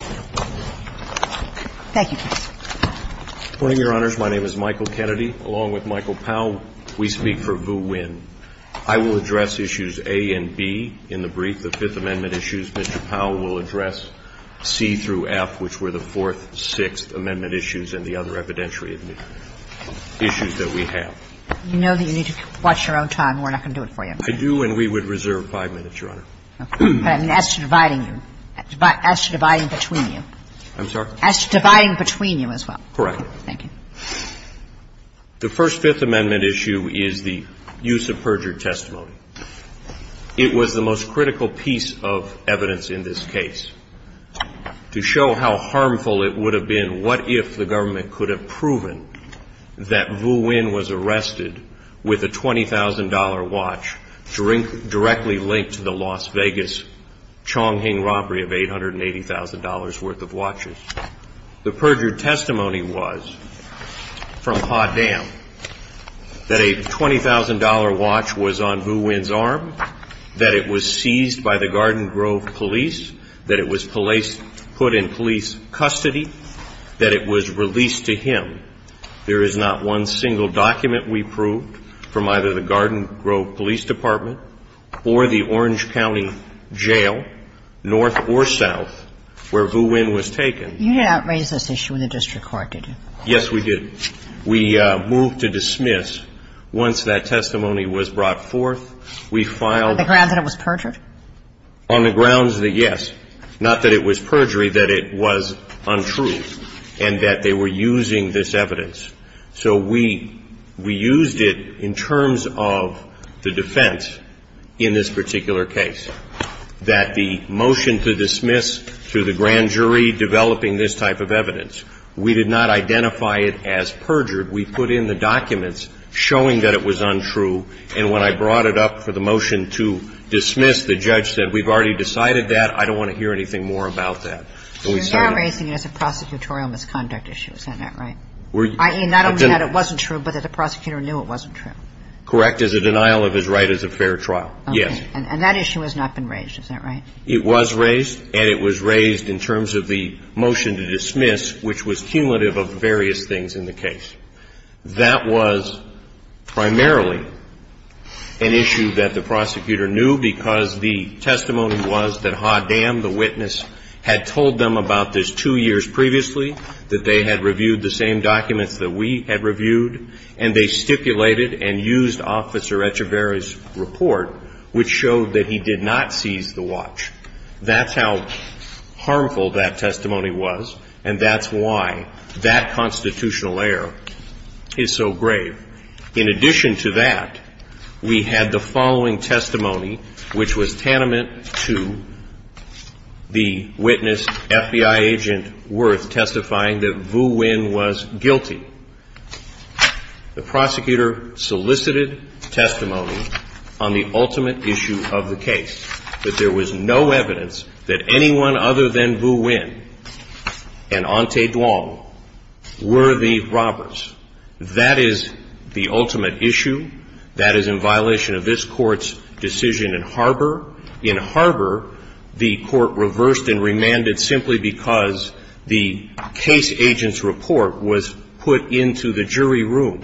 I will address issues A and B in the brief. The Fifth Amendment issues, Mr. Powell, will address C through F, which were the Fourth, Sixth Amendment issues and the other evidentiary issues that we have. You know that you need to watch your own time. We're not going to do it for you. I do, and we would reserve five minutes, Your Honor. But I mean, as to dividing you, as to dividing between you. I'm sorry? As to dividing between you as well. Correct. Thank you. The First Fifth Amendment issue is the use of perjured testimony. It was the most critical piece of evidence in this case to show how harmful it would have been what if the government could have proven that Vu Nguyen was arrested with a $20,000 watch directly linked to the Las Vegas Chong Hing robbery of $880,000 worth of watches. The perjured testimony was from Pa Dam that a $20,000 watch was on Vu Nguyen's arm, that it was seized by the Garden Grove police, that it was placed, put in police custody, that it was released to him. There is not one single document we proved from either the Garden Grove police department or the Orange County Jail, north or south, where Vu Nguyen was taken. You did not raise this issue in the district court, did you? Yes, we did. We moved to dismiss. Once that testimony was brought forth, we filed the case. On the grounds that it was perjured? On the grounds that, yes. Not that it was perjury, that it was untrue and that they were using this evidence. So we used it in terms of the defense in this particular case, that the motion to dismiss through the grand jury developing this type of evidence, we did not identify it as perjured. We put in the documents showing that it was untrue. And when I brought it up for the motion to dismiss, the judge said, we've already decided that. I don't want to hear anything more about that. So you're not raising it as a prosecutorial misconduct issue. Is that not right? I.e., not only that it wasn't true, but that the prosecutor knew it wasn't true. Correct. As a denial of his right as a fair trial. Yes. And that issue has not been raised. Is that right? It was raised, and it was raised in terms of the motion to dismiss, which was cumulative of various things in the case. That was primarily an issue that the prosecutor knew because the testimony was that Hoddam, the witness, had told them about this two years previously, that they had reviewed the same documents that we had reviewed, and they stipulated and used Officer Echevarria's report, which showed that he did not seize the watch. That's how harmful that testimony was, and that's why that constitutional error is so grave. In addition to that, we had the following testimony, which was tantamount to the witness, FBI agent Worth, testifying that Vu Nguyen was guilty. The prosecutor solicited testimony on the ultimate issue of the case, that there was no evidence that anyone other than Vu Nguyen and Ante Duong were the witnesses to the robbery. That is the ultimate issue. That is in violation of this Court's decision in Harbor. In Harbor, the Court reversed and remanded simply because the case agent's report was put into the jury room,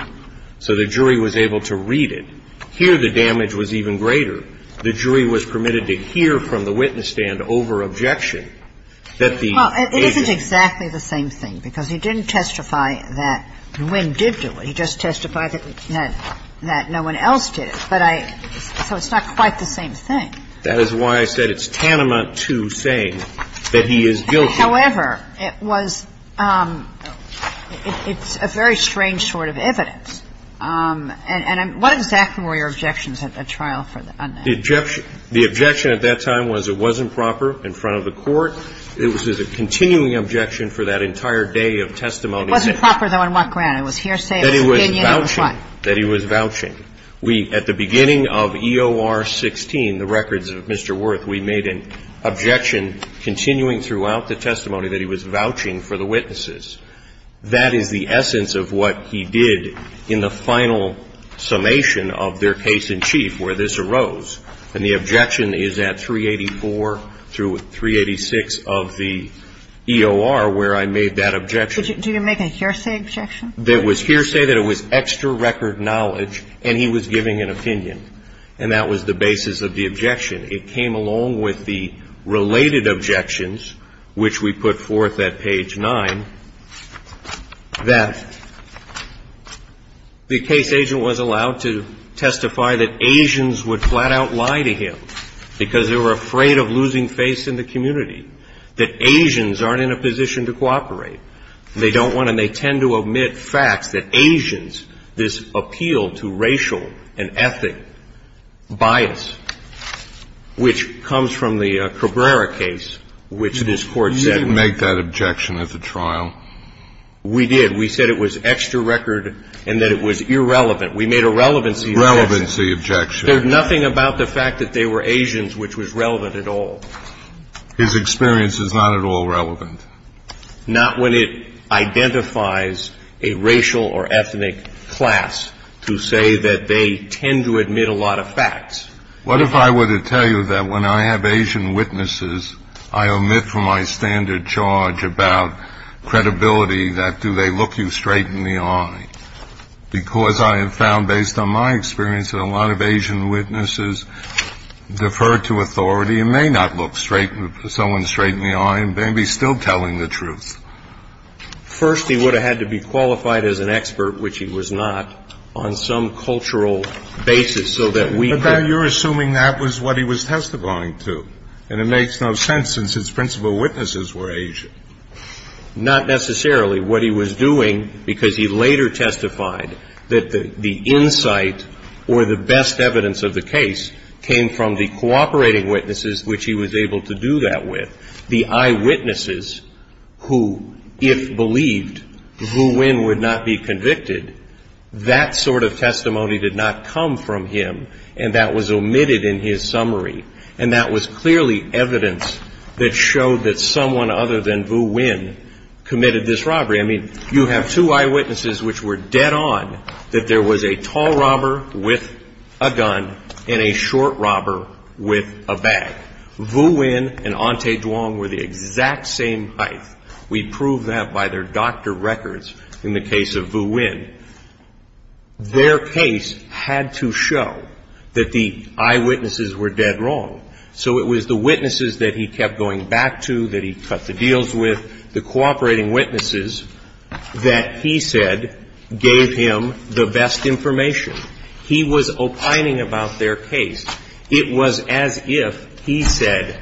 so the jury was able to read it. Here, the damage was even greater. The jury was permitted to hear from the witness stand over objection that the agent And that is exactly the same thing, because he didn't testify that Vu Nguyen did do it. He just testified that no one else did it. But I don't know. It's not quite the same thing. That is why I said it's tantamount to saying that he is guilty. However, it was – it's a very strange sort of evidence. And what exactly were your objections at the trial for the unnamed? The objection at that time was it wasn't proper in front of the Court. It was a continuing objection for that entire day of testimony. It wasn't proper, though, in what ground? It was hearsay. It was opinion. It was what? That he was vouching. At the beginning of EOR 16, the records of Mr. Wirth, we made an objection continuing throughout the testimony that he was vouching for the witnesses. That is the essence of what he did in the final summation of their case in chief where this arose. And the objection is at 384 through 386 of the EOR where I made that objection. Did you make a hearsay objection? It was hearsay that it was extra record knowledge and he was giving an opinion. And that was the basis of the objection. It came along with the related objections, which we put forth at page 9, that the Asians would flat-out lie to him because they were afraid of losing face in the community, that Asians aren't in a position to cooperate. They don't want to and they tend to omit facts that Asians, this appeal to racial and ethic bias, which comes from the Cabrera case, which this Court said. You didn't make that objection at the trial. We did. We said it was extra record and that it was irrelevant. We made a relevancy objection. There's nothing about the fact that they were Asians which was relevant at all. His experience is not at all relevant. Not when it identifies a racial or ethnic class to say that they tend to admit a lot of facts. What if I were to tell you that when I have Asian witnesses, I omit from my standard charge about credibility that do they look you straight in the eye? Because I have found based on my experience that a lot of Asian witnesses defer to authority and may not look someone straight in the eye and may be still telling the truth. First he would have had to be qualified as an expert, which he was not, on some cultural basis so that we could But now you're assuming that was what he was testifying to. And it makes no sense since his principal witnesses were Asian. Not necessarily what he was doing because he later testified that the insight or the best evidence of the case came from the cooperating witnesses which he was able to do that with. The eyewitnesses who if believed Vu Nguyen would not be convicted, that sort of testimony did not come from him and that was omitted in his summary. And that was clearly evidence that showed that someone other than Vu Nguyen committed this robbery. I mean, you have two eyewitnesses which were dead on that there was a tall robber with a gun and a short robber with a bag. Vu Nguyen and Ante Duong were the exact same height. We prove that by their doctor records in the case of Vu Nguyen. Their case had to show that the eyewitnesses were dead wrong. So it was the witnesses that he kept going back to, that he cut the deals with, the cooperating witnesses that he said gave him the best information. He was opining about their case. It was as if he said,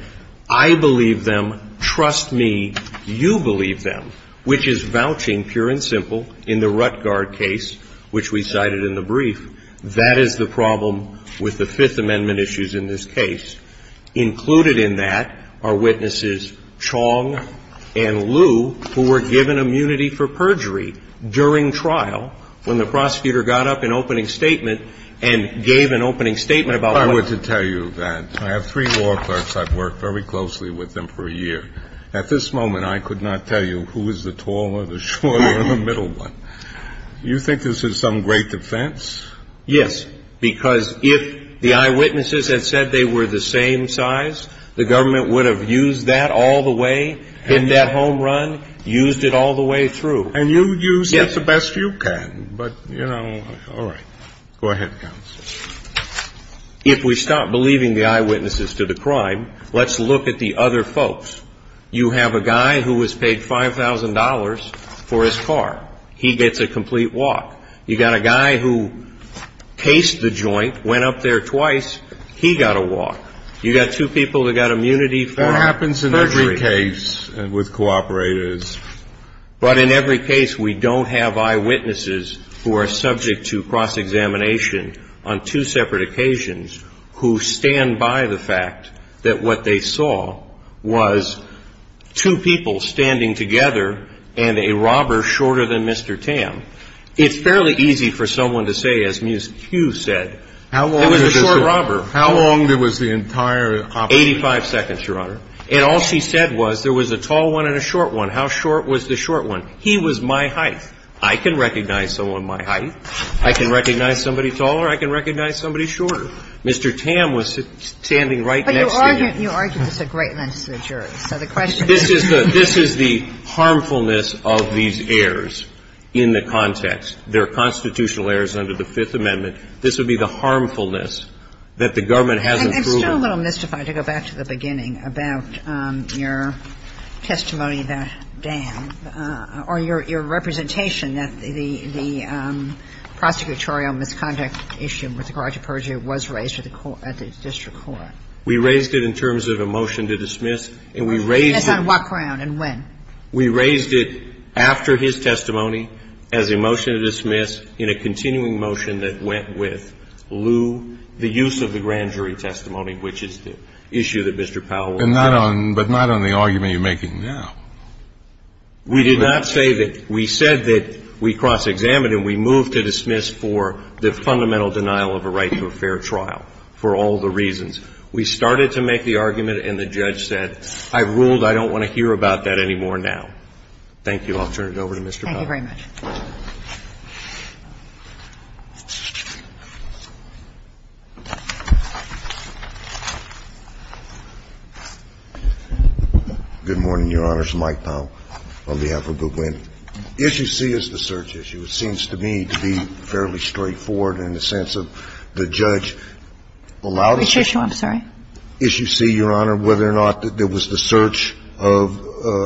I believe them, trust me, you believe them, which is vouching, pure and simple, in the Ruttgard case, which we cited in the brief. That is the problem with the Fifth Amendment issues in this case. Included in that are witnesses Chong and Liu who were given immunity for perjury during trial when the prosecutor got up in opening statement and gave an opening statement about what. I have three law clerks. I've worked very closely with them for a year. At this moment, I could not tell you who is the taller, the shorter or the middle one. You think this is some great defense? Yes, because if the eyewitnesses had said they were the same size, the government would have used that all the way in that home run, used it all the way through. And you used it the best you can. But, you know, all right. Go ahead, counsel. If we stop believing the eyewitnesses to the crime, let's look at the other folks. You have a guy who was paid $5,000 for his car. He gets a complete walk. You've got a guy who cased the joint, went up there twice. He got a walk. You've got two people who got immunity for perjury. That happens in every case with cooperators. But in every case, we don't have eyewitnesses who are subject to cross-examination on two separate occasions who stand by the fact that what they saw was two people standing together and a robber shorter than Mr. Tam. It's fairly easy for someone to say, as Ms. Hugh said, there was a short robber. How long was the entire operation? Eighty-five seconds, Your Honor. And all she said was there was a tall one and a short one. How short was the short one? He was my height. I can recognize someone my height. I can recognize somebody taller. I can recognize somebody shorter. Mr. Tam was standing right next to me. But you argued this at great lengths to the jury. So the question is the question. This is the harmfulness of these errors in the context. There are constitutional errors under the Fifth Amendment. This would be the harmfulness that the government hasn't proven. It's still a little mystified, to go back to the beginning, about your testimony about Dan or your representation that the prosecutorial misconduct issue with the garage approach was raised at the court, at the district court. We raised it in terms of a motion to dismiss. And we raised it. Yes, on what ground and when? We raised it after his testimony as a motion to dismiss in a continuing motion that went with lieu the use of the grand jury testimony, which is the issue that Mr. Powell will address. But not on the argument you're making now. We did not say that. We said that we cross-examined and we moved to dismiss for the fundamental denial of a right to a fair trial, for all the reasons. We started to make the argument, and the judge said, I ruled I don't want to hear about that anymore now. Thank you. I'll turn it over to Mr. Powell. Thank you very much. Good morning, Your Honor. It's Mike Powell on behalf of Google India. Issue C is the search issue. It seems to me to be fairly straightforward in the sense of the judge allowed us to issue C, Your Honor, whether or not there was the search of,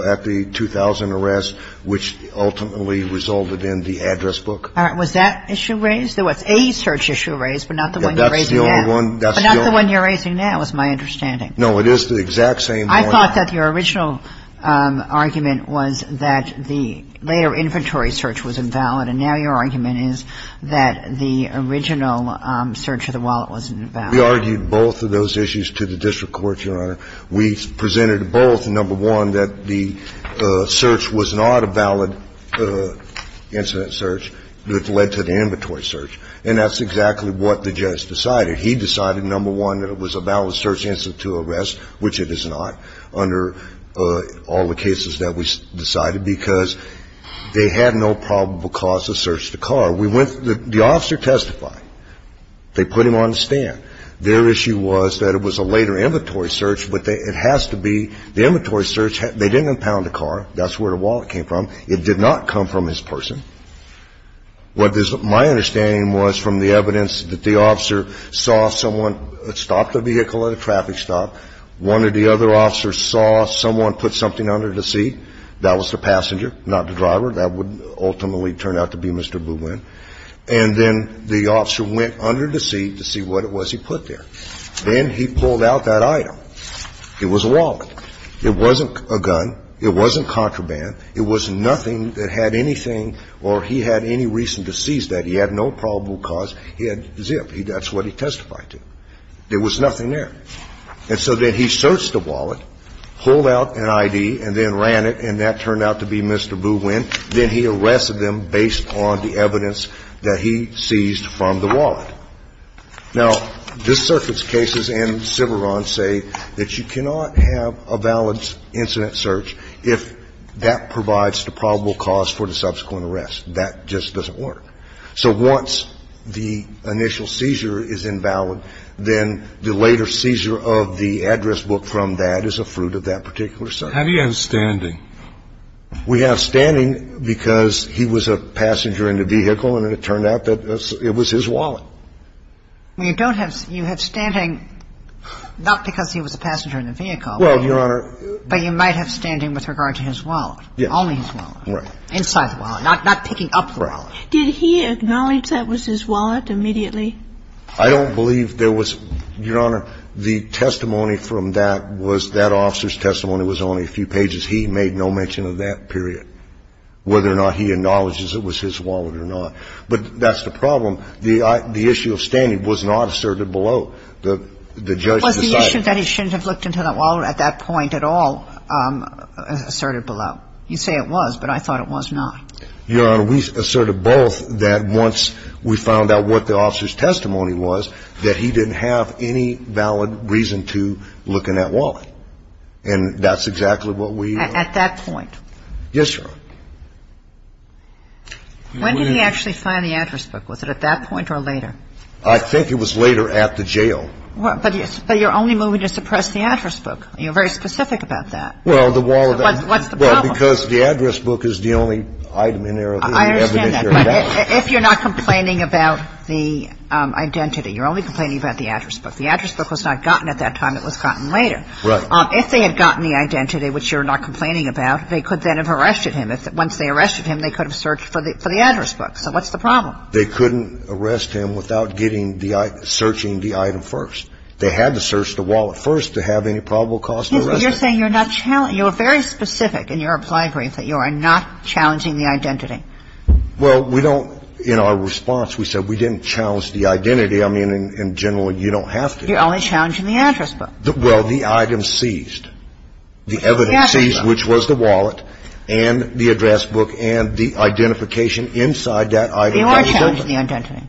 at the 2000 arrest, which ultimately resulted in the address book. All right. Was that issue raised? It was a search issue raised, but not the one you're raising now. That's the only one. But not the one you're raising now, is my understanding. No, it is the exact same point. I thought that your original argument was that the later inventory search was invalid, and now your argument is that the original search of the wallet was invalid. We argued both of those issues to the district court, Your Honor. We presented both. Number one, that the search was not a valid incident search that led to the inventory search. And that's exactly what the judge decided. He decided, number one, that it was a valid search incident to arrest, which it is not, under all the cases that we decided, because they had no probable cause to search the car. The officer testified. They put him on the stand. Their issue was that it was a later inventory search, but it has to be the inventory search. They didn't impound the car. That's where the wallet came from. It did not come from his person. My understanding was from the evidence that the officer saw someone stop the vehicle at a traffic stop. One of the other officers saw someone put something under the seat. That was the passenger, not the driver. That would ultimately turn out to be Mr. Buwen. And then the officer went under the seat to see what it was he put there. Then he pulled out that item. It was a wallet. It wasn't a gun. It wasn't contraband. It was nothing that had anything or he had any reason to seize that. He had no probable cause. He had zip. That's what he testified to. There was nothing there. And so then he searched the wallet, pulled out an ID, and then ran it, and that turned out to be Mr. Buwen. Then he arrested him based on the evidence that he seized from the wallet. Now, this circuit's cases and Civeron's say that you cannot have a valid incident search if that provides the probable cause for the subsequent arrest. That just doesn't work. So once the initial seizure is invalid, then the later seizure of the address book from that is a fruit of that particular search. Have you had standing? We have standing because he was a passenger in the vehicle, and it turned out that it was his wallet. Well, you don't have you have standing not because he was a passenger in the vehicle. Well, Your Honor. But you might have standing with regard to his wallet, only his wallet. Right. Inside the wallet, not picking up the wallet. Did he acknowledge that was his wallet immediately? I don't believe there was, Your Honor, the testimony from that was that officer's testimony was only a few pages. He made no mention of that period, whether or not he acknowledges it was his wallet or not. But that's the problem. The issue of standing was not asserted below. The judge decided. Was the issue that he shouldn't have looked into that wallet at that point at all asserted below? You say it was, but I thought it was not. Your Honor, we asserted both that once we found out what the officer's testimony was, that he didn't have any valid reason to look in that wallet. And that's exactly what we. At that point. Yes, Your Honor. When did he actually find the address book? Was it at that point or later? I think it was later at the jail. But you're only moving to suppress the address book. You're very specific about that. Well, the wallet. What's the problem? Well, because the address book is the only item in there. I understand that. But if you're not complaining about the identity, you're only complaining about the address book. The address book was not gotten at that time. It was gotten later. Right. If they had gotten the identity, which you're not complaining about, they could then have arrested him. Once they arrested him, they could have searched for the address book. So what's the problem? They couldn't arrest him without getting the item, searching the item first. They had to search the wallet first to have any probable cause to arrest him. You're saying you're not challenging. You're very specific in your applied brief that you are not challenging the identity. Well, we don't. In our response, we said we didn't challenge the identity. I mean, in general, you don't have to. You're only challenging the address book. Well, the item seized. The evidence seized, which was the wallet and the address book and the identification inside that item. You are challenging the identity.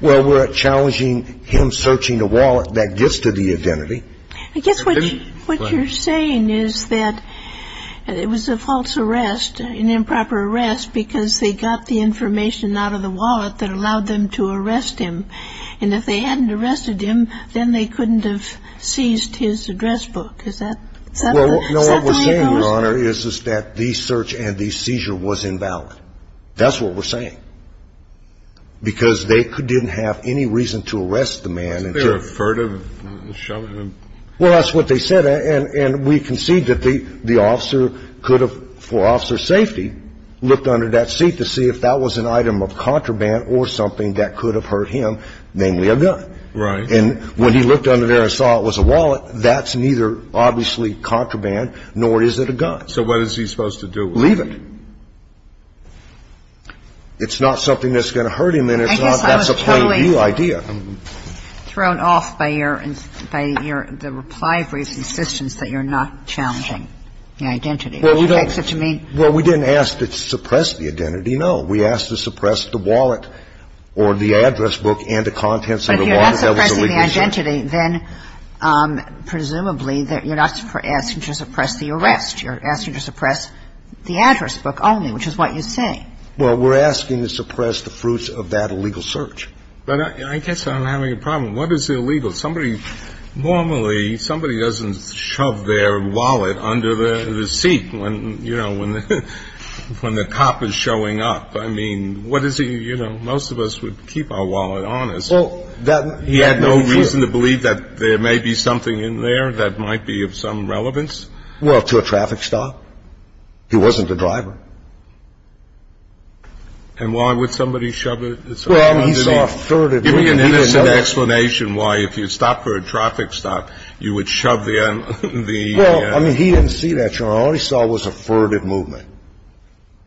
Well, we're challenging him searching the wallet that gets to the identity. I guess what you're saying is that it was a false arrest, an improper arrest, because they got the information out of the wallet that allowed them to arrest him. And if they hadn't arrested him, then they couldn't have seized his address book. Is that the way it goes? Well, no. What we're saying, Your Honor, is that the search and the seizure was invalid. That's what we're saying. Because they didn't have any reason to arrest the man until he was found. Was there a furtive? Well, that's what they said. And we concede that the officer could have, for officer's safety, looked under that seat to see if that was an item of contraband or something that could have hurt him, namely a gun. Right. And when he looked under there and saw it was a wallet, that's neither obviously contraband, nor is it a gun. So what is he supposed to do with it? Leave it. It's not something that's going to hurt him, and it's not that's a point of view idea. I guess I was totally thrown off by your – by your – the reply for his insistence that you're not challenging the identity. Well, we don't. Well, we didn't ask to suppress the identity, no. We asked to suppress the wallet or the address book and the contents of the wallet. But if you're not suppressing the identity, then presumably you're not asking to suppress the arrest. You're asking to suppress the address book only, which is what you say. Well, we're asking to suppress the fruits of that illegal search. But I guess I'm having a problem. What is illegal? Well, somebody – normally somebody doesn't shove their wallet under the seat when, you know, when the cop is showing up. I mean, what is he – you know, most of us would keep our wallet on us. Well, that – He had no reason to believe that there may be something in there that might be of some relevance. Well, to a traffic stop. He wasn't a driver. And why would somebody shove it under the seat? Well, he's authoritative. Give me an innocent explanation why, if you stop for a traffic stop, you would shove the – Well, I mean, he didn't see that, Your Honor. All he saw was a furtive movement.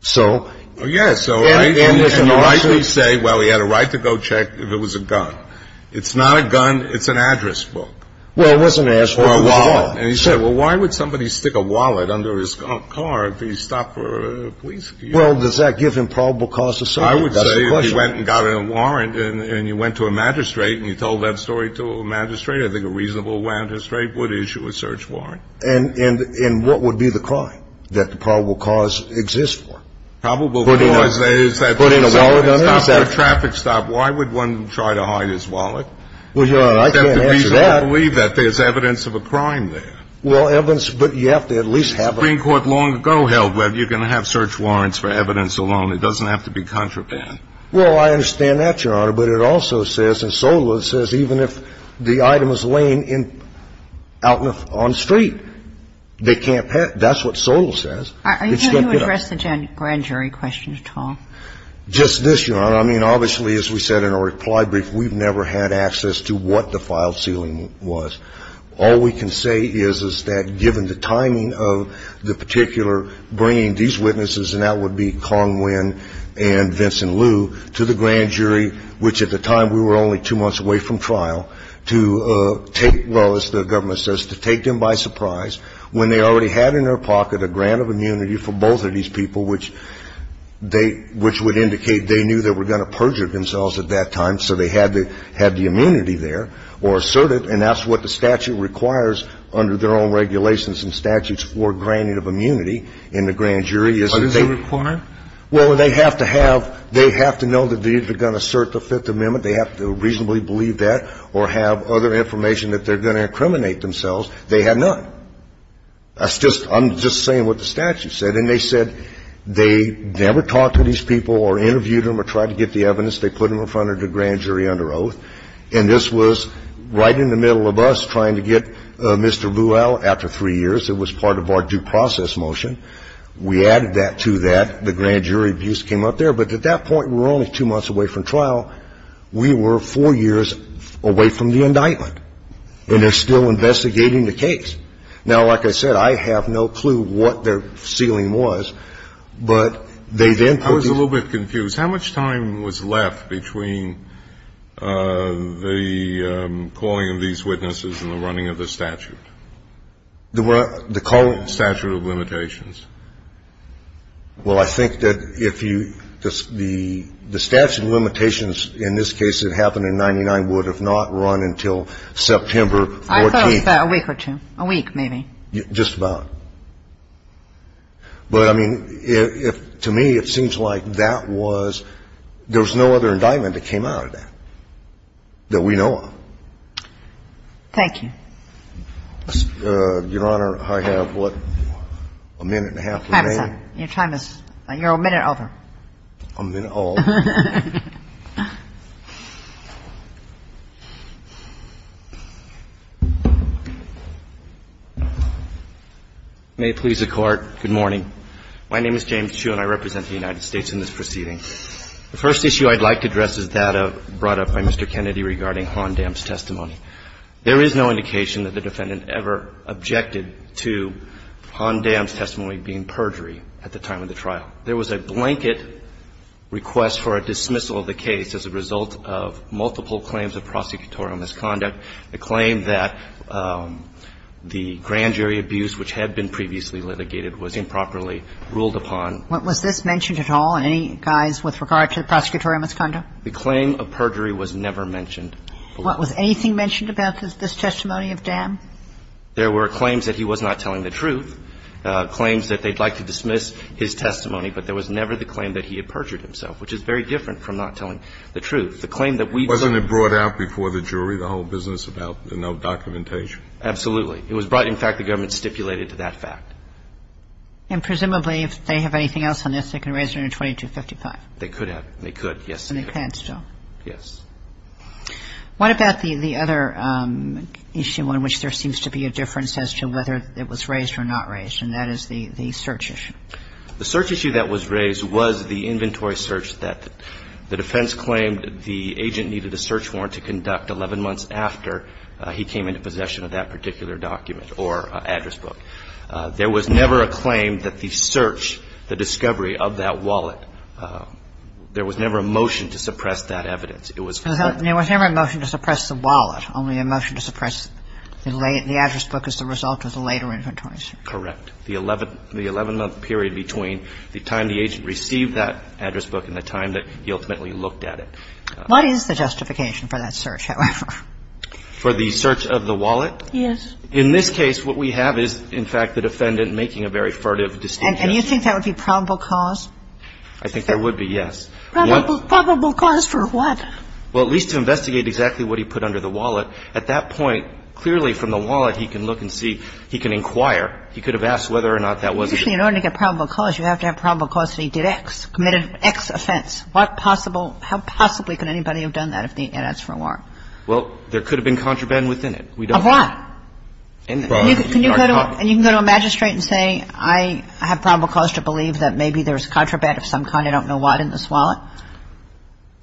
So – Oh, yeah. So I can rightly say, well, he had a right to go check if it was a gun. It's not a gun. It's an address book. Well, it wasn't an address book. Or a wallet. Or a wallet. And he said, well, why would somebody stick a wallet under his car if he stopped for a police – Well, does that give him probable cause of subject? That's the question. Well, he went and got a warrant, and you went to a magistrate, and you told that story to a magistrate. I think a reasonable magistrate would issue a search warrant. And what would be the crime that the probable cause exists for? Probable cause is that – Putting a wallet under his car. Stopped for a traffic stop. Why would one try to hide his wallet? Well, Your Honor, I can't answer that. That's the reason I believe that there's evidence of a crime there. Well, evidence – but you have to at least have a – The Supreme Court long ago held whether you can have search warrants for evidence alone. It doesn't have to be contraband. Well, I understand that, Your Honor. But it also says in SOTA it says even if the item is laying in – out on the street, they can't – that's what SOTA says. Are you going to address the grand jury question at all? Just this, Your Honor. I mean, obviously, as we said in our reply brief, we've never had access to what the filed ceiling was. All we can say is, is that given the timing of the particular bringing these witnesses, and that would be Kong Nguyen and Vincent Liu, to the grand jury, which at the time we were only two months away from trial, to take – well, as the government says, to take them by surprise when they already had in their pocket a grant of immunity for both of these people, which they – which would indicate they knew they were going to perjure themselves at that time, so they had the immunity there, or assert it, and that's what the statute requires under their own regulations and statutes for granting of immunity in the grand jury. But is it required? Well, they have to have – they have to know that if they're going to assert the Fifth Amendment, they have to reasonably believe that or have other information that they're going to incriminate themselves. They had none. That's just – I'm just saying what the statute said. And they said they never talked to these people or interviewed them or tried to get the evidence. They put them in front of the grand jury under oath. And this was right in the middle of us trying to get Mr. Liu out after three years. It was part of our due process motion. We added that to that. The grand jury abuse came up there. But at that point, we were only two months away from trial. We were four years away from the indictment. And they're still investigating the case. Now, like I said, I have no clue what their ceiling was, but they then put these – I was a little bit confused. How much time was left between the calling of these witnesses and the running of the statute? The what? The calling – The calling of the statute. The calling of the statute. The statute limitations. Well, I think that if you – the statute limitations in this case that happened in 1999 would have not run until September 14th. I thought a week or two. A week, maybe. Just about. But, I mean, if – to me, it seems like that was – there was no other indictment that came out of that that we know of. Thank you. Your Honor, I have, what, a minute and a half remaining? Your time is – you're a minute over. A minute over. May it please the Court. Good morning. My name is James Hsu, and I represent the United States in this proceeding. The first issue I'd like to address is that brought up by Mr. Kennedy regarding Hondam's testimony. There is no indication that the defendant ever objected to Hondam's testimony being perjury at the time of the trial. There was a blanket request for a dismissal of the case as a result of multiple claims of prosecutorial misconduct, a claim that the grand jury abuse, which had been previously litigated, was improperly ruled upon. Was this mentioned at all? In any guise with regard to the prosecutorial misconduct? The claim of perjury was never mentioned. Was anything mentioned about this testimony of Dan? There were claims that he was not telling the truth, claims that they'd like to dismiss his testimony, but there was never the claim that he had perjured himself, which is very different from not telling the truth. The claim that we've seen – Wasn't it brought out before the jury, the whole business about no documentation? Absolutely. It was brought – in fact, the government stipulated to that fact. And presumably, if they have anything else on this, they can raise it under 2255? They could have. They could, yes. And they can still? Yes. What about the other issue on which there seems to be a difference as to whether it was raised or not raised, and that is the search issue? The search issue that was raised was the inventory search that the defense claimed the agent needed a search warrant to conduct 11 months after he came into possession of that particular document or address book. There was never a claim that the search, the discovery of that wallet – there was never a motion to suppress that evidence. It was – There was never a motion to suppress the wallet, only a motion to suppress the address book as a result of the later inventory search. Correct. The 11-month period between the time the agent received that address book and the time that he ultimately looked at it. What is the justification for that search, however? For the search of the wallet? Yes. In this case, what we have is, in fact, the defendant making a very furtive distinction. And you think that would be probable cause? I think there would be, yes. Probable cause for what? Well, at least to investigate exactly what he put under the wallet. At that point, clearly from the wallet, he can look and see. He can inquire. He could have asked whether or not that was it. Usually in order to get probable cause, you have to have probable cause that he did X, committed X offense. What possible – how possibly could anybody have done that if he had asked for a warrant? Well, there could have been contraband within it. Of what? Can you go to a magistrate and say, I have probable cause to believe that maybe there's contraband of some kind, I don't know what, in this wallet?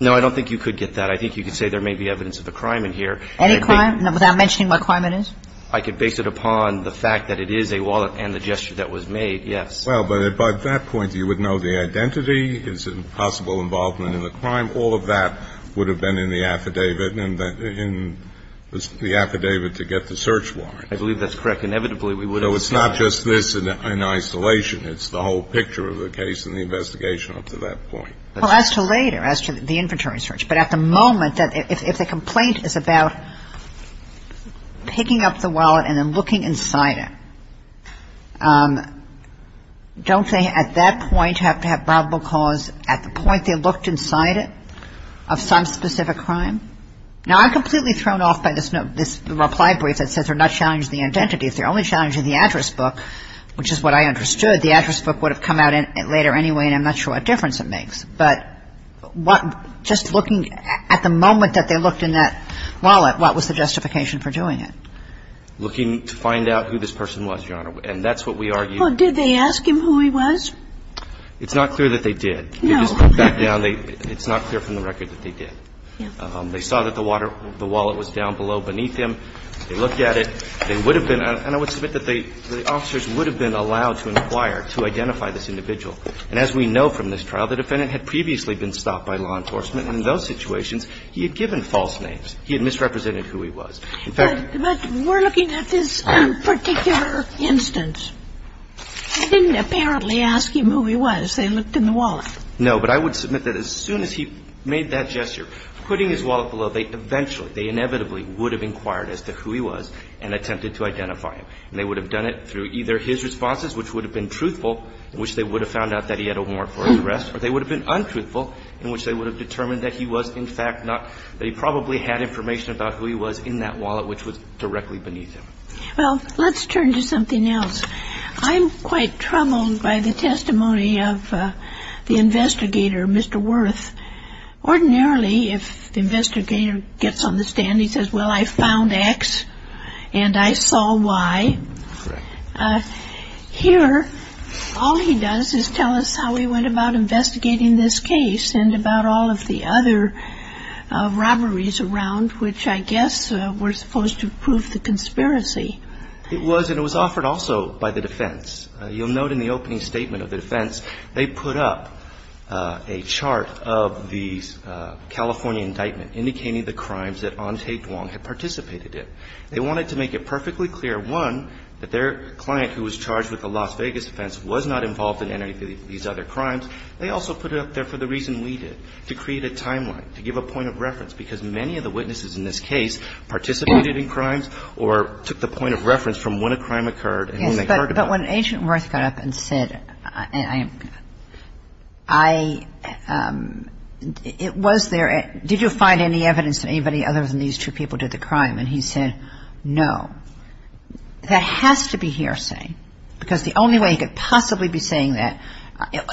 No, I don't think you could get that. I think you could say there may be evidence of a crime in here. Any crime, without mentioning what crime it is? I could base it upon the fact that it is a wallet and the gesture that was made, yes. Well, but at that point, you would know the identity, is it possible involvement in the crime. All of that would have been in the affidavit and in the affidavit to get the search warrant. I believe that's correct. Inevitably, we would have seen that. So it's not just this in isolation. It's the whole picture of the case and the investigation up to that point. Well, as to later, as to the inventory search, but at the moment, if the complaint is about picking up the wallet and then looking inside it, don't they at that point have to have probable cause at the point they looked inside it of some specific crime? Now, I'm completely thrown off by this reply brief that says they're not challenging the identity. If they're only challenging the address book, which is what I understood, the address book would have come out later anyway, and I'm not sure what difference it makes. But just looking at the moment that they looked in that wallet, what was the justification for doing it? Looking to find out who this person was, Your Honor. And that's what we argued. Well, did they ask him who he was? It's not clear that they did. No. It's not clear from the record that they did. Yeah. They saw that the wallet was down below beneath him. They looked at it. They would have been – and I would submit that the officers would have been allowed to inquire, to identify this individual. And as we know from this trial, the defendant had previously been stopped by law enforcement, and in those situations, he had given false names. He had misrepresented who he was. But we're looking at this particular instance. They didn't apparently ask him who he was. They looked in the wallet. No. But I would submit that as soon as he made that gesture, putting his wallet below, they eventually, they inevitably would have inquired as to who he was and attempted to identify him. And they would have done it through either his responses, which would have been truthful, in which they would have found out that he had a warrant for arrest, or they would have been untruthful, in which they would have determined that he was, in fact, not – that he probably had information about who he was in that wallet, which was directly beneath him. Well, let's turn to something else. I'm quite troubled by the testimony of the investigator, Mr. Wirth. Ordinarily, if the investigator gets on the stand, he says, well, I found X, and I saw Y. Correct. Here, all he does is tell us how he went about investigating this case and about all of the other robberies around, which I guess were supposed to prove the conspiracy. It was, and it was offered also by the defense. You'll note in the opening statement of the defense, they put up a chart of the California indictment indicating the crimes that Ante Duong had participated in. They wanted to make it perfectly clear, one, that their client, who was charged with the Las Vegas offense, was not involved in any of these other crimes. They also put it up there for the reason we did, to create a timeline, to give a point of reference, because many of the witnesses in this case participated in crimes or took the point of reference from when a crime occurred and when they heard about it. Yes, but when Agent Wirth got up and said, I – it was their – did you find any evidence that anybody other than these two people did the crime? And he said, no. That has to be hearsay, because the only way he could possibly be saying that,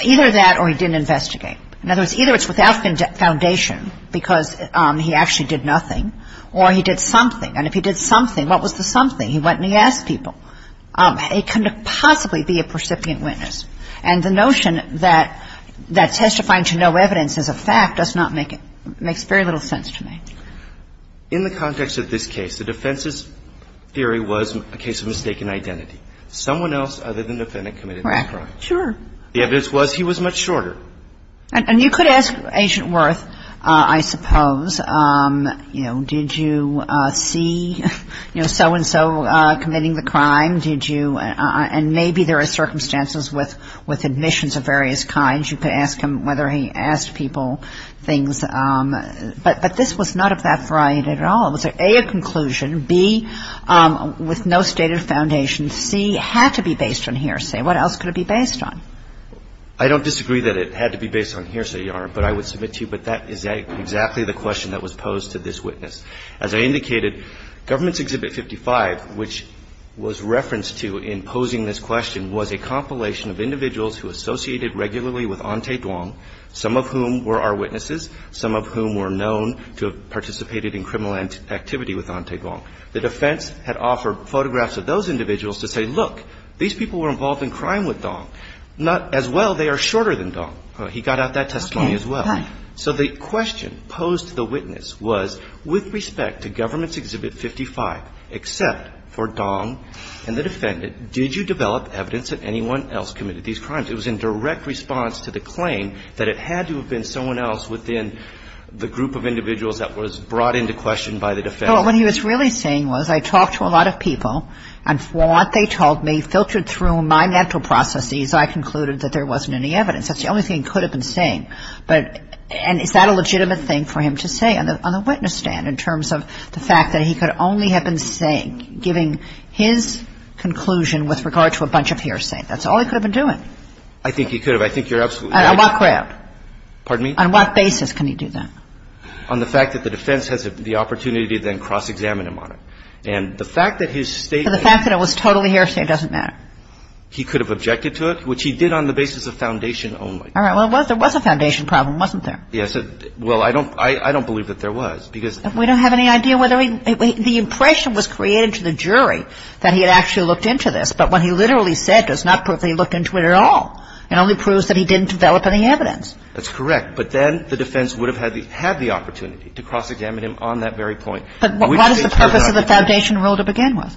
either that or he didn't investigate. In other words, either it's without foundation, because he actually did nothing, or he did something. And if he did something, what was the something? He went and he asked people. He couldn't possibly be a precipitant witness. And the notion that testifying to no evidence is a fact does not make – makes very little sense to me. In the context of this case, the defense's theory was a case of mistaken identity. Someone else other than the defendant committed the crime. Correct. Sure. The evidence was he was much shorter. And you could ask Agent Wirth, I suppose, you know, did you see, you know, so-and-so committing the crime? Did you – and maybe there are circumstances with admissions of various kinds. You could ask him whether he asked people things. But this was not of that variety at all. It was, A, a conclusion. B, with no stated foundation. C, had to be based on hearsay. What else could it be based on? I don't disagree that it had to be based on hearsay, Your Honor, but I would submit to you, but that is exactly the question that was posed to this witness. As I indicated, Government's Exhibit 55, which was referenced to in posing this question, was a compilation of individuals who associated regularly with Ente Duong, some of whom were our witnesses, some of whom were known to have participated in criminal activity with Ente Duong. The defense had offered photographs of those individuals to say, look, these people were involved in crime with Duong. As well, they are shorter than Duong. He got out that testimony as well. So the question posed to the witness was, with respect to Government's Exhibit 55, except for Duong and the defendant, did you develop evidence that anyone else committed these crimes? It was in direct response to the claim that it had to have been someone else within the group of individuals that was brought into question by the defendant. Well, what he was really saying was, I talked to a lot of people, and what they told me filtered through my mental processes. I concluded that there wasn't any evidence. That's the only thing he could have been saying. But is that a legitimate thing for him to say on the witness stand in terms of the fact that he could only have been saying, giving his conclusion with regard to a bunch of hearsay? That's all he could have been doing. I think he could have. I think you're absolutely right. On what ground? Pardon me? On what basis can he do that? On the fact that the defense has the opportunity to then cross-examine him on it. And the fact that his statement was totally hearsay doesn't mean anything. It doesn't matter. He could have objected to it, which he did on the basis of foundation only. All right. Well, there was a foundation problem, wasn't there? Yes. Well, I don't believe that there was, because we don't have any idea whether he – the impression was created to the jury that he had actually looked into this. But what he literally said does not prove that he looked into it at all. It only proves that he didn't develop any evidence. That's correct. But then the defense would have had the opportunity to cross-examine him on that very But what is the purpose of the foundation rule to begin with?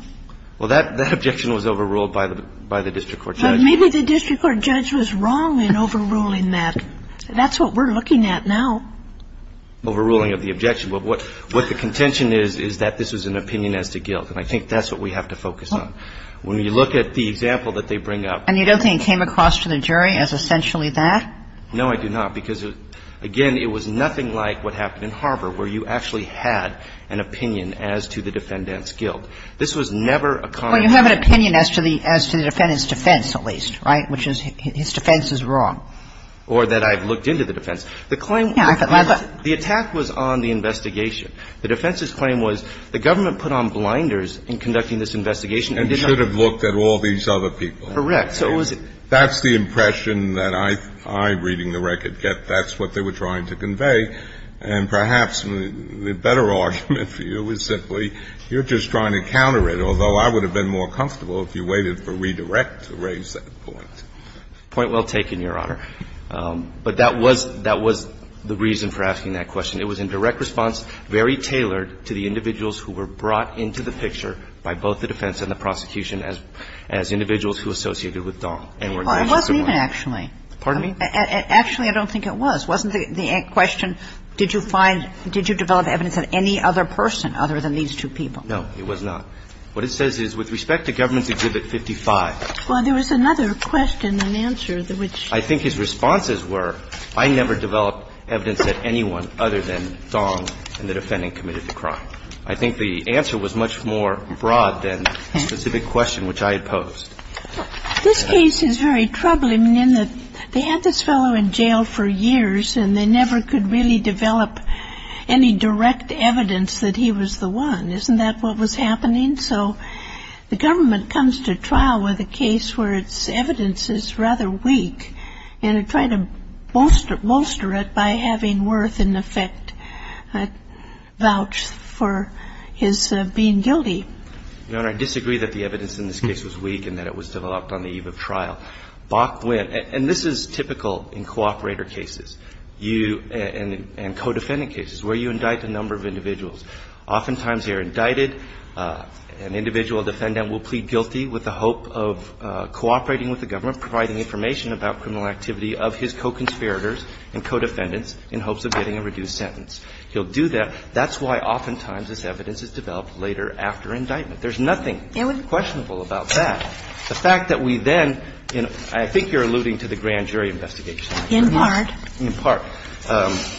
Well, that objection was overruled by the district court judge. Maybe the district court judge was wrong in overruling that. That's what we're looking at now. Overruling of the objection. But what the contention is, is that this was an opinion as to guilt. And I think that's what we have to focus on. When you look at the example that they bring up. And you don't think it came across to the jury as essentially that? No, I do not. Because, again, it was nothing like what happened in Harbor, where you actually had an opinion as to the defendant's guilt. This was never a comment. Well, you have an opinion as to the defendant's defense, at least, right, which is his defense is wrong. Or that I've looked into the defense. The claim was the attack was on the investigation. The defense's claim was the government put on blinders in conducting this investigation and did not. And should have looked at all these other people. Correct. So it was. That's what they were trying to convey. And perhaps the better argument for you is simply, you're just trying to counter it, although I would have been more comfortable if you waited for redirect to raise that point. Point well taken, Your Honor. But that was the reason for asking that question. It was in direct response, very tailored to the individuals who were brought into the picture by both the defense and the prosecution as individuals who associated with Don. It wasn't even actually. Pardon me? Actually, I don't think it was. It wasn't the question, did you find, did you develop evidence of any other person other than these two people? No, it was not. What it says is, with respect to Governance Exhibit 55. Well, there was another question and answer which. I think his responses were, I never developed evidence that anyone other than Don and the defendant committed the crime. I think the answer was much more broad than the specific question which I had posed. This case is very troubling in that they had this fellow in jail for years and they never could really develop any direct evidence that he was the one. Isn't that what was happening? So the government comes to trial with a case where its evidence is rather weak and they try to bolster it by having Worth, in effect, vouch for his being guilty. Your Honor, I disagree that the evidence in this case was weak and that it was developed on the eve of trial. Bach went, and this is typical in cooperator cases, you, and co-defendant cases where you indict a number of individuals. Oftentimes you're indicted. An individual defendant will plead guilty with the hope of cooperating with the government, providing information about criminal activity of his co-conspirators and co-defendants in hopes of getting a reduced sentence. He'll do that. That's why oftentimes this evidence is developed later after indictment. There's nothing questionable about that. The fact that we then – and I think you're alluding to the grand jury investigation. In part. In part.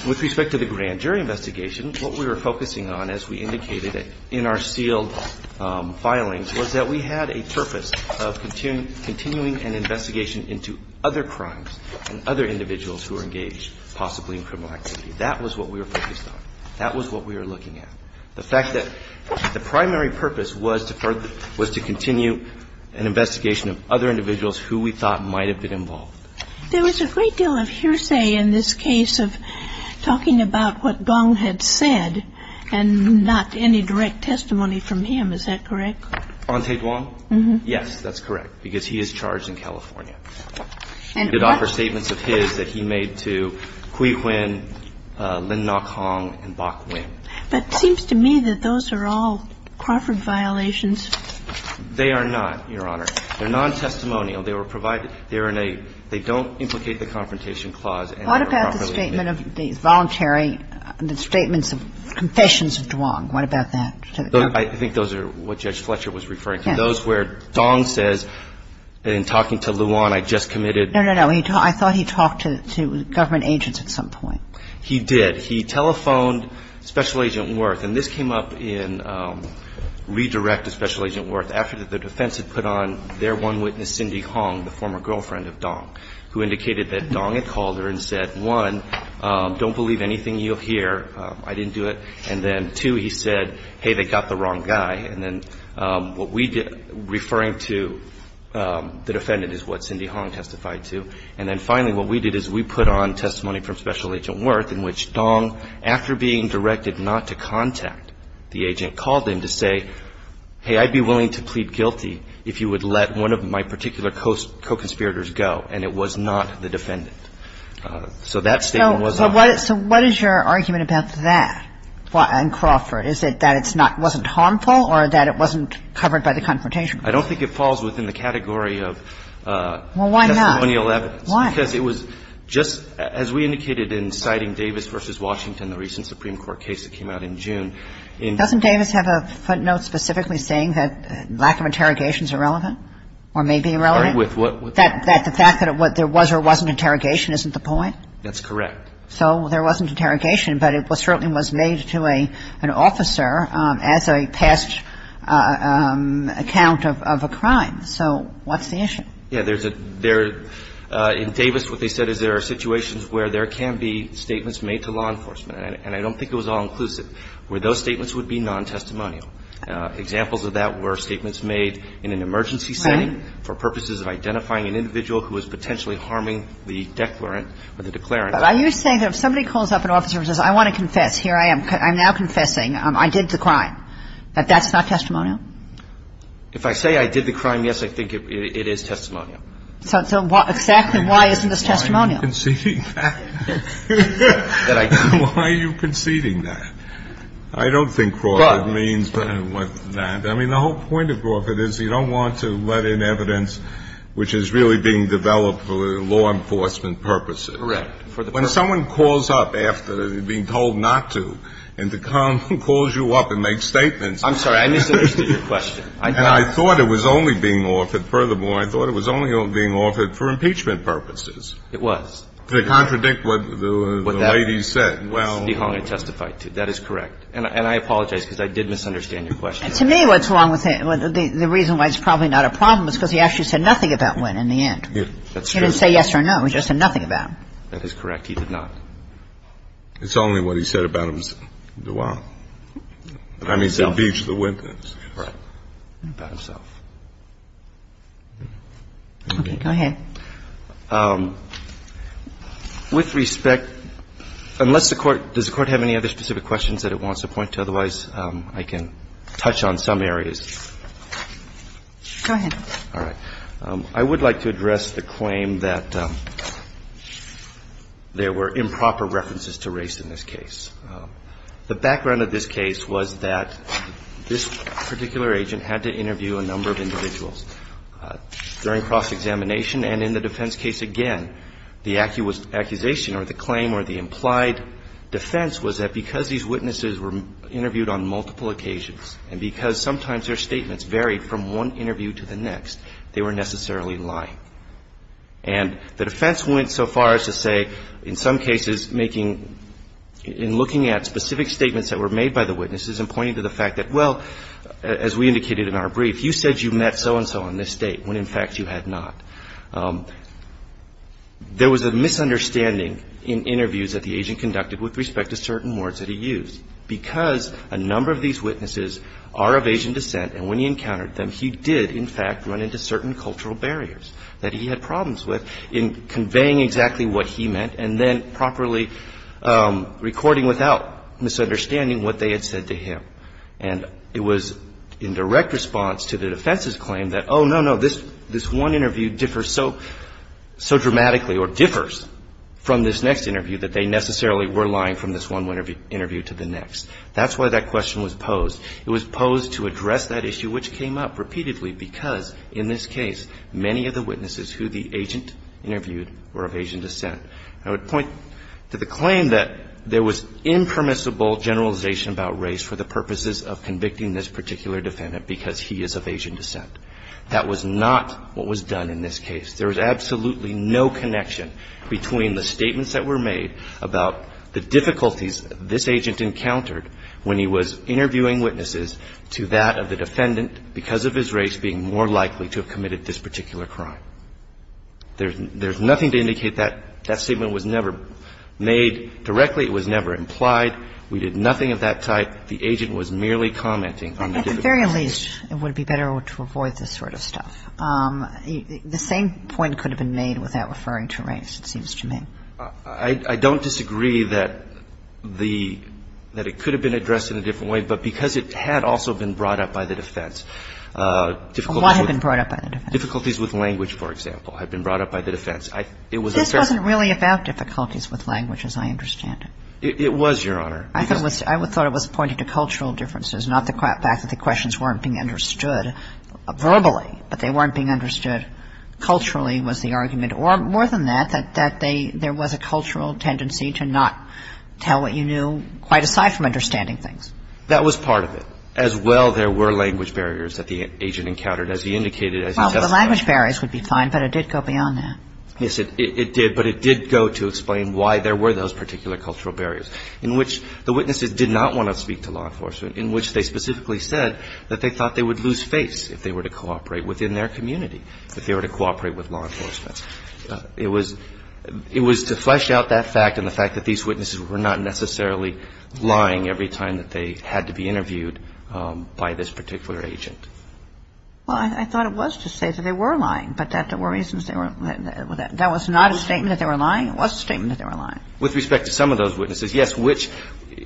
With respect to the grand jury investigation, what we were focusing on, as we indicated in our sealed filings, was that we had a purpose of continuing an investigation into other crimes and other individuals who were engaged possibly in criminal activity. That was what we were focused on. That was what we were looking at. The fact that the primary purpose was to further – was to continue an investigation of other individuals who we thought might have been involved. There was a great deal of hearsay in this case of talking about what Gong had said and not any direct testimony from him. Is that correct? Anh The Duong? Mm-hmm. Yes, that's correct, because he is charged in California. And what – But it seems to me that those are all Crawford violations. They are not, Your Honor. They're non-testimonial. They were provided – they're in a – they don't implicate the Confrontation Clause. What about the statement of the voluntary – the statements of confessions of Duong? What about that? I think those are what Judge Fletcher was referring to. Yes. Those where Duong says, in talking to Luan, I just committed – No, no, no. I thought he talked to government agents at some point. He did. He said he telephoned Special Agent Wirth. And this came up in – redirect to Special Agent Wirth. After the defense had put on their one witness, Cindy Hong, the former girlfriend of Duong, who indicated that Duong had called her and said, one, don't believe anything you'll hear. I didn't do it. And then, two, he said, hey, they got the wrong guy. And then what we did – referring to the defendant is what Cindy Hong testified to. And then finally, what we did is we put on testimony from Special Agent Wirth in which Duong, after being directed not to contact the agent, called him to say, hey, I'd be willing to plead guilty if you would let one of my particular co-conspirators go. And it was not the defendant. So that statement was on. So what is your argument about that in Crawford? Is it that it's not – wasn't harmful or that it wasn't covered by the Confrontation Clause? I don't think it falls within the category of – Well, why not? Why? Because it was just, as we indicated in citing Davis v. Washington, the recent Supreme Court case that came out in June. Doesn't Davis have a footnote specifically saying that lack of interrogation is irrelevant or may be irrelevant? With what? That the fact that there was or wasn't interrogation isn't the point? That's correct. So there wasn't interrogation, but it certainly was made to an officer as a past account of a crime. So what's the issue? Yeah, there's a – there – in Davis, what they said is there are situations where there can be statements made to law enforcement, and I don't think it was all-inclusive, where those statements would be non-testimonial. Examples of that were statements made in an emergency setting for purposes of identifying an individual who was potentially harming the declarant or the declarant. But are you saying that if somebody calls up an officer and says, I want to confess, here I am, I'm now confessing, I did the crime, that that's not testimonial? If I say I did the crime, yes, I think it is testimonial. So why – exactly why isn't this testimonial? Why are you conceding that? That I did the crime. Why are you conceding that? I don't think Crawford means with that. I mean, the whole point of Crawford is you don't want to let in evidence which is really being developed for law enforcement purposes. Correct. When someone calls up after being told not to and the con calls you up and makes statements. I'm sorry. I misunderstood your question. And I thought it was only being offered. Furthermore, I thought it was only being offered for impeachment purposes. It was. To contradict what the lady said. Well. That is correct. And I apologize because I did misunderstand your question. To me, what's wrong with it, the reason why it's probably not a problem is because he actually said nothing about Wynn in the end. That's true. He didn't say yes or no. He just said nothing about him. That is correct. He did not. It's only what he said about him that's wrong. I mean, he said Beach, the Wyntons. Right. About himself. Okay. Go ahead. With respect, unless the Court – does the Court have any other specific questions that it wants to point to? Otherwise, I can touch on some areas. Go ahead. All right. I would like to address the claim that there were improper references to race in this case. The background of this case was that this particular agent had to interview a number of individuals during cross-examination. And in the defense case, again, the accusation or the claim or the implied defense was that because these witnesses were interviewed on multiple occasions and because sometimes their statements varied from one interview to the next, they were necessarily lying. And the defense went so far as to say, in some cases, making – in looking at specific statements that were made by the witnesses and pointing to the fact that, well, as we indicated in our brief, you said you met so-and-so on this date when, in fact, you had not. There was a misunderstanding in interviews that the agent conducted with respect to certain words that he used. Because a number of these witnesses are of Asian descent and when he encountered them, he did, in fact, run into certain cultural barriers that he had problems with in conveying exactly what he meant and then properly recording without misunderstanding what they had said to him. And it was in direct response to the defense's claim that, oh, no, no, this one interview differs so dramatically or differs from this next interview that they necessarily were lying from this one interview to the next. That's why that question was posed. It was posed to address that issue which came up repeatedly because, in this case, many of the witnesses who the agent interviewed were of Asian descent. I would point to the claim that there was impermissible generalization about race for the purposes of convicting this particular defendant because he is of Asian descent. That was not what was done in this case. There was absolutely no connection between the statements that were made about the defendant because of his race being more likely to have committed this particular crime. There's nothing to indicate that. That statement was never made directly. It was never implied. We did nothing of that type. The agent was merely commenting on the difficulty. At the very least, it would be better to avoid this sort of stuff. The same point could have been made without referring to race, it seems to me. I don't disagree that the – that it could have been addressed in a different way, but because it had also been brought up by the defense. A lot had been brought up by the defense. Difficulties with language, for example, had been brought up by the defense. This wasn't really about difficulties with language, as I understand it. It was, Your Honor. I thought it was pointed to cultural differences, not the fact that the questions weren't being understood verbally, but they weren't being understood culturally, was the argument. Or more than that, that there was a cultural tendency to not tell what you knew quite aside from understanding things. That was part of it. As well, there were language barriers that the agent encountered, as he indicated as he testified. Well, the language barriers would be fine, but it did go beyond that. Yes, it did. But it did go to explain why there were those particular cultural barriers, in which the witnesses did not want to speak to law enforcement, in which they specifically said that they thought they would lose face if they were to cooperate within their community, if they were to cooperate with law enforcement. It was to flesh out that fact and the fact that these witnesses were not necessarily lying every time that they had to be interviewed by this particular agent. Well, I thought it was to say that they were lying, but that there were reasons they weren't. That was not a statement that they were lying. It was a statement that they were lying. With respect to some of those witnesses, yes, which,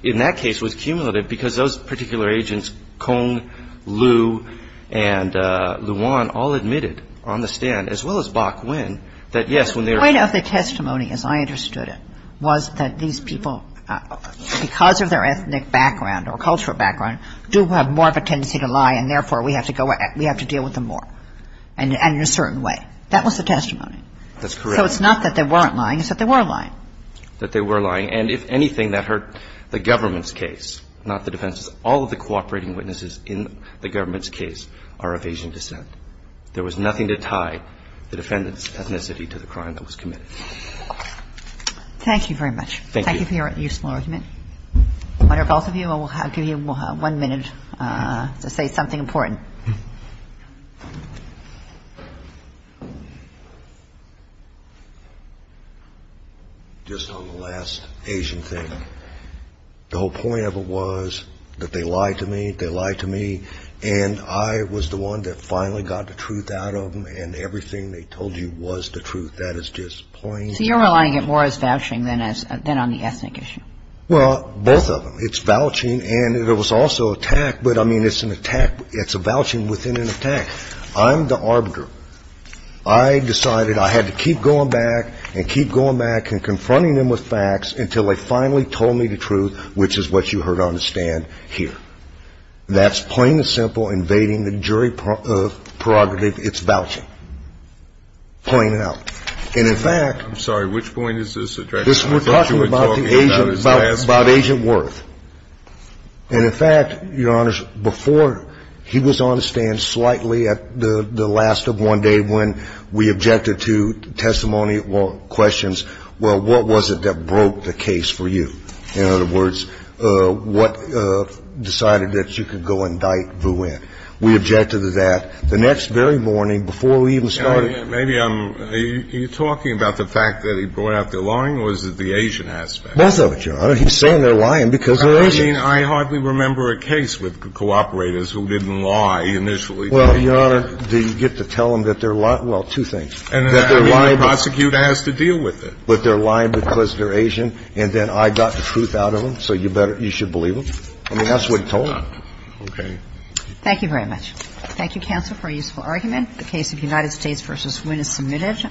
in that case, was cumulative because those particular agents, Kong, Liu, and Luan, all admitted on the stand, as well as Bok-Wen, that, yes, when they were ---- The point of the testimony, as I understood it, was that these people, because of their ethnic background or cultural background, do have more of a tendency to lie, and, therefore, we have to go at them, we have to deal with them more, and in a certain way. That was the testimony. That's correct. So it's not that they weren't lying. It's that they were lying. That they were lying. And if anything, that hurt the government's case, not the defendant's. All of the cooperating witnesses in the government's case are of Asian descent. There was nothing to tie the defendant's ethnicity to the crime that was committed. Thank you very much. Thank you. Thank you for your useful argument. I wonder if both of you, I'll give you one minute to say something important. Just on the last Asian thing, the whole point of it was that they lied to me, they lied to me, and I was the one that finally got the truth out of them, and everything they told you was the truth. That is just plain and simple. So you're relying more on vouching than on the ethnic issue. Well, both of them. It's vouching, and there was also attack, but, I mean, it's an attack. It's a vouching within an attack. I'm the arbiter. I decided I had to keep going back and keep going back and confronting them with facts until they finally told me the truth, which is what you heard on the stand here. That's plain and simple invading the jury prerogative. It's vouching. Plain and out. And, in fact. I'm sorry. Which point is this addressing? We're talking about Agent Worth. And, in fact, Your Honors, before he was on the stand slightly at the last of one day when we objected to testimony or questions, well, what was it that broke the case for you? In other words, what decided that you could go indict Vu Nguyen? We objected to that the next very morning before we even started. Maybe I'm – are you talking about the fact that he brought out the lying or is it the Asian aspect? Both of it, Your Honor. He's saying they're lying because they're Asian. I mean, I hardly remember a case with cooperators who didn't lie initially. Well, Your Honor, do you get to tell them that they're lying? Well, two things. That they're lying because they're Asian. And then I got the truth out of them, so you better – you should believe them. I mean, that's what he told them. Okay. Thank you very much. Thank you, counsel, for a useful argument. The case of United States v. Nguyen is submitted.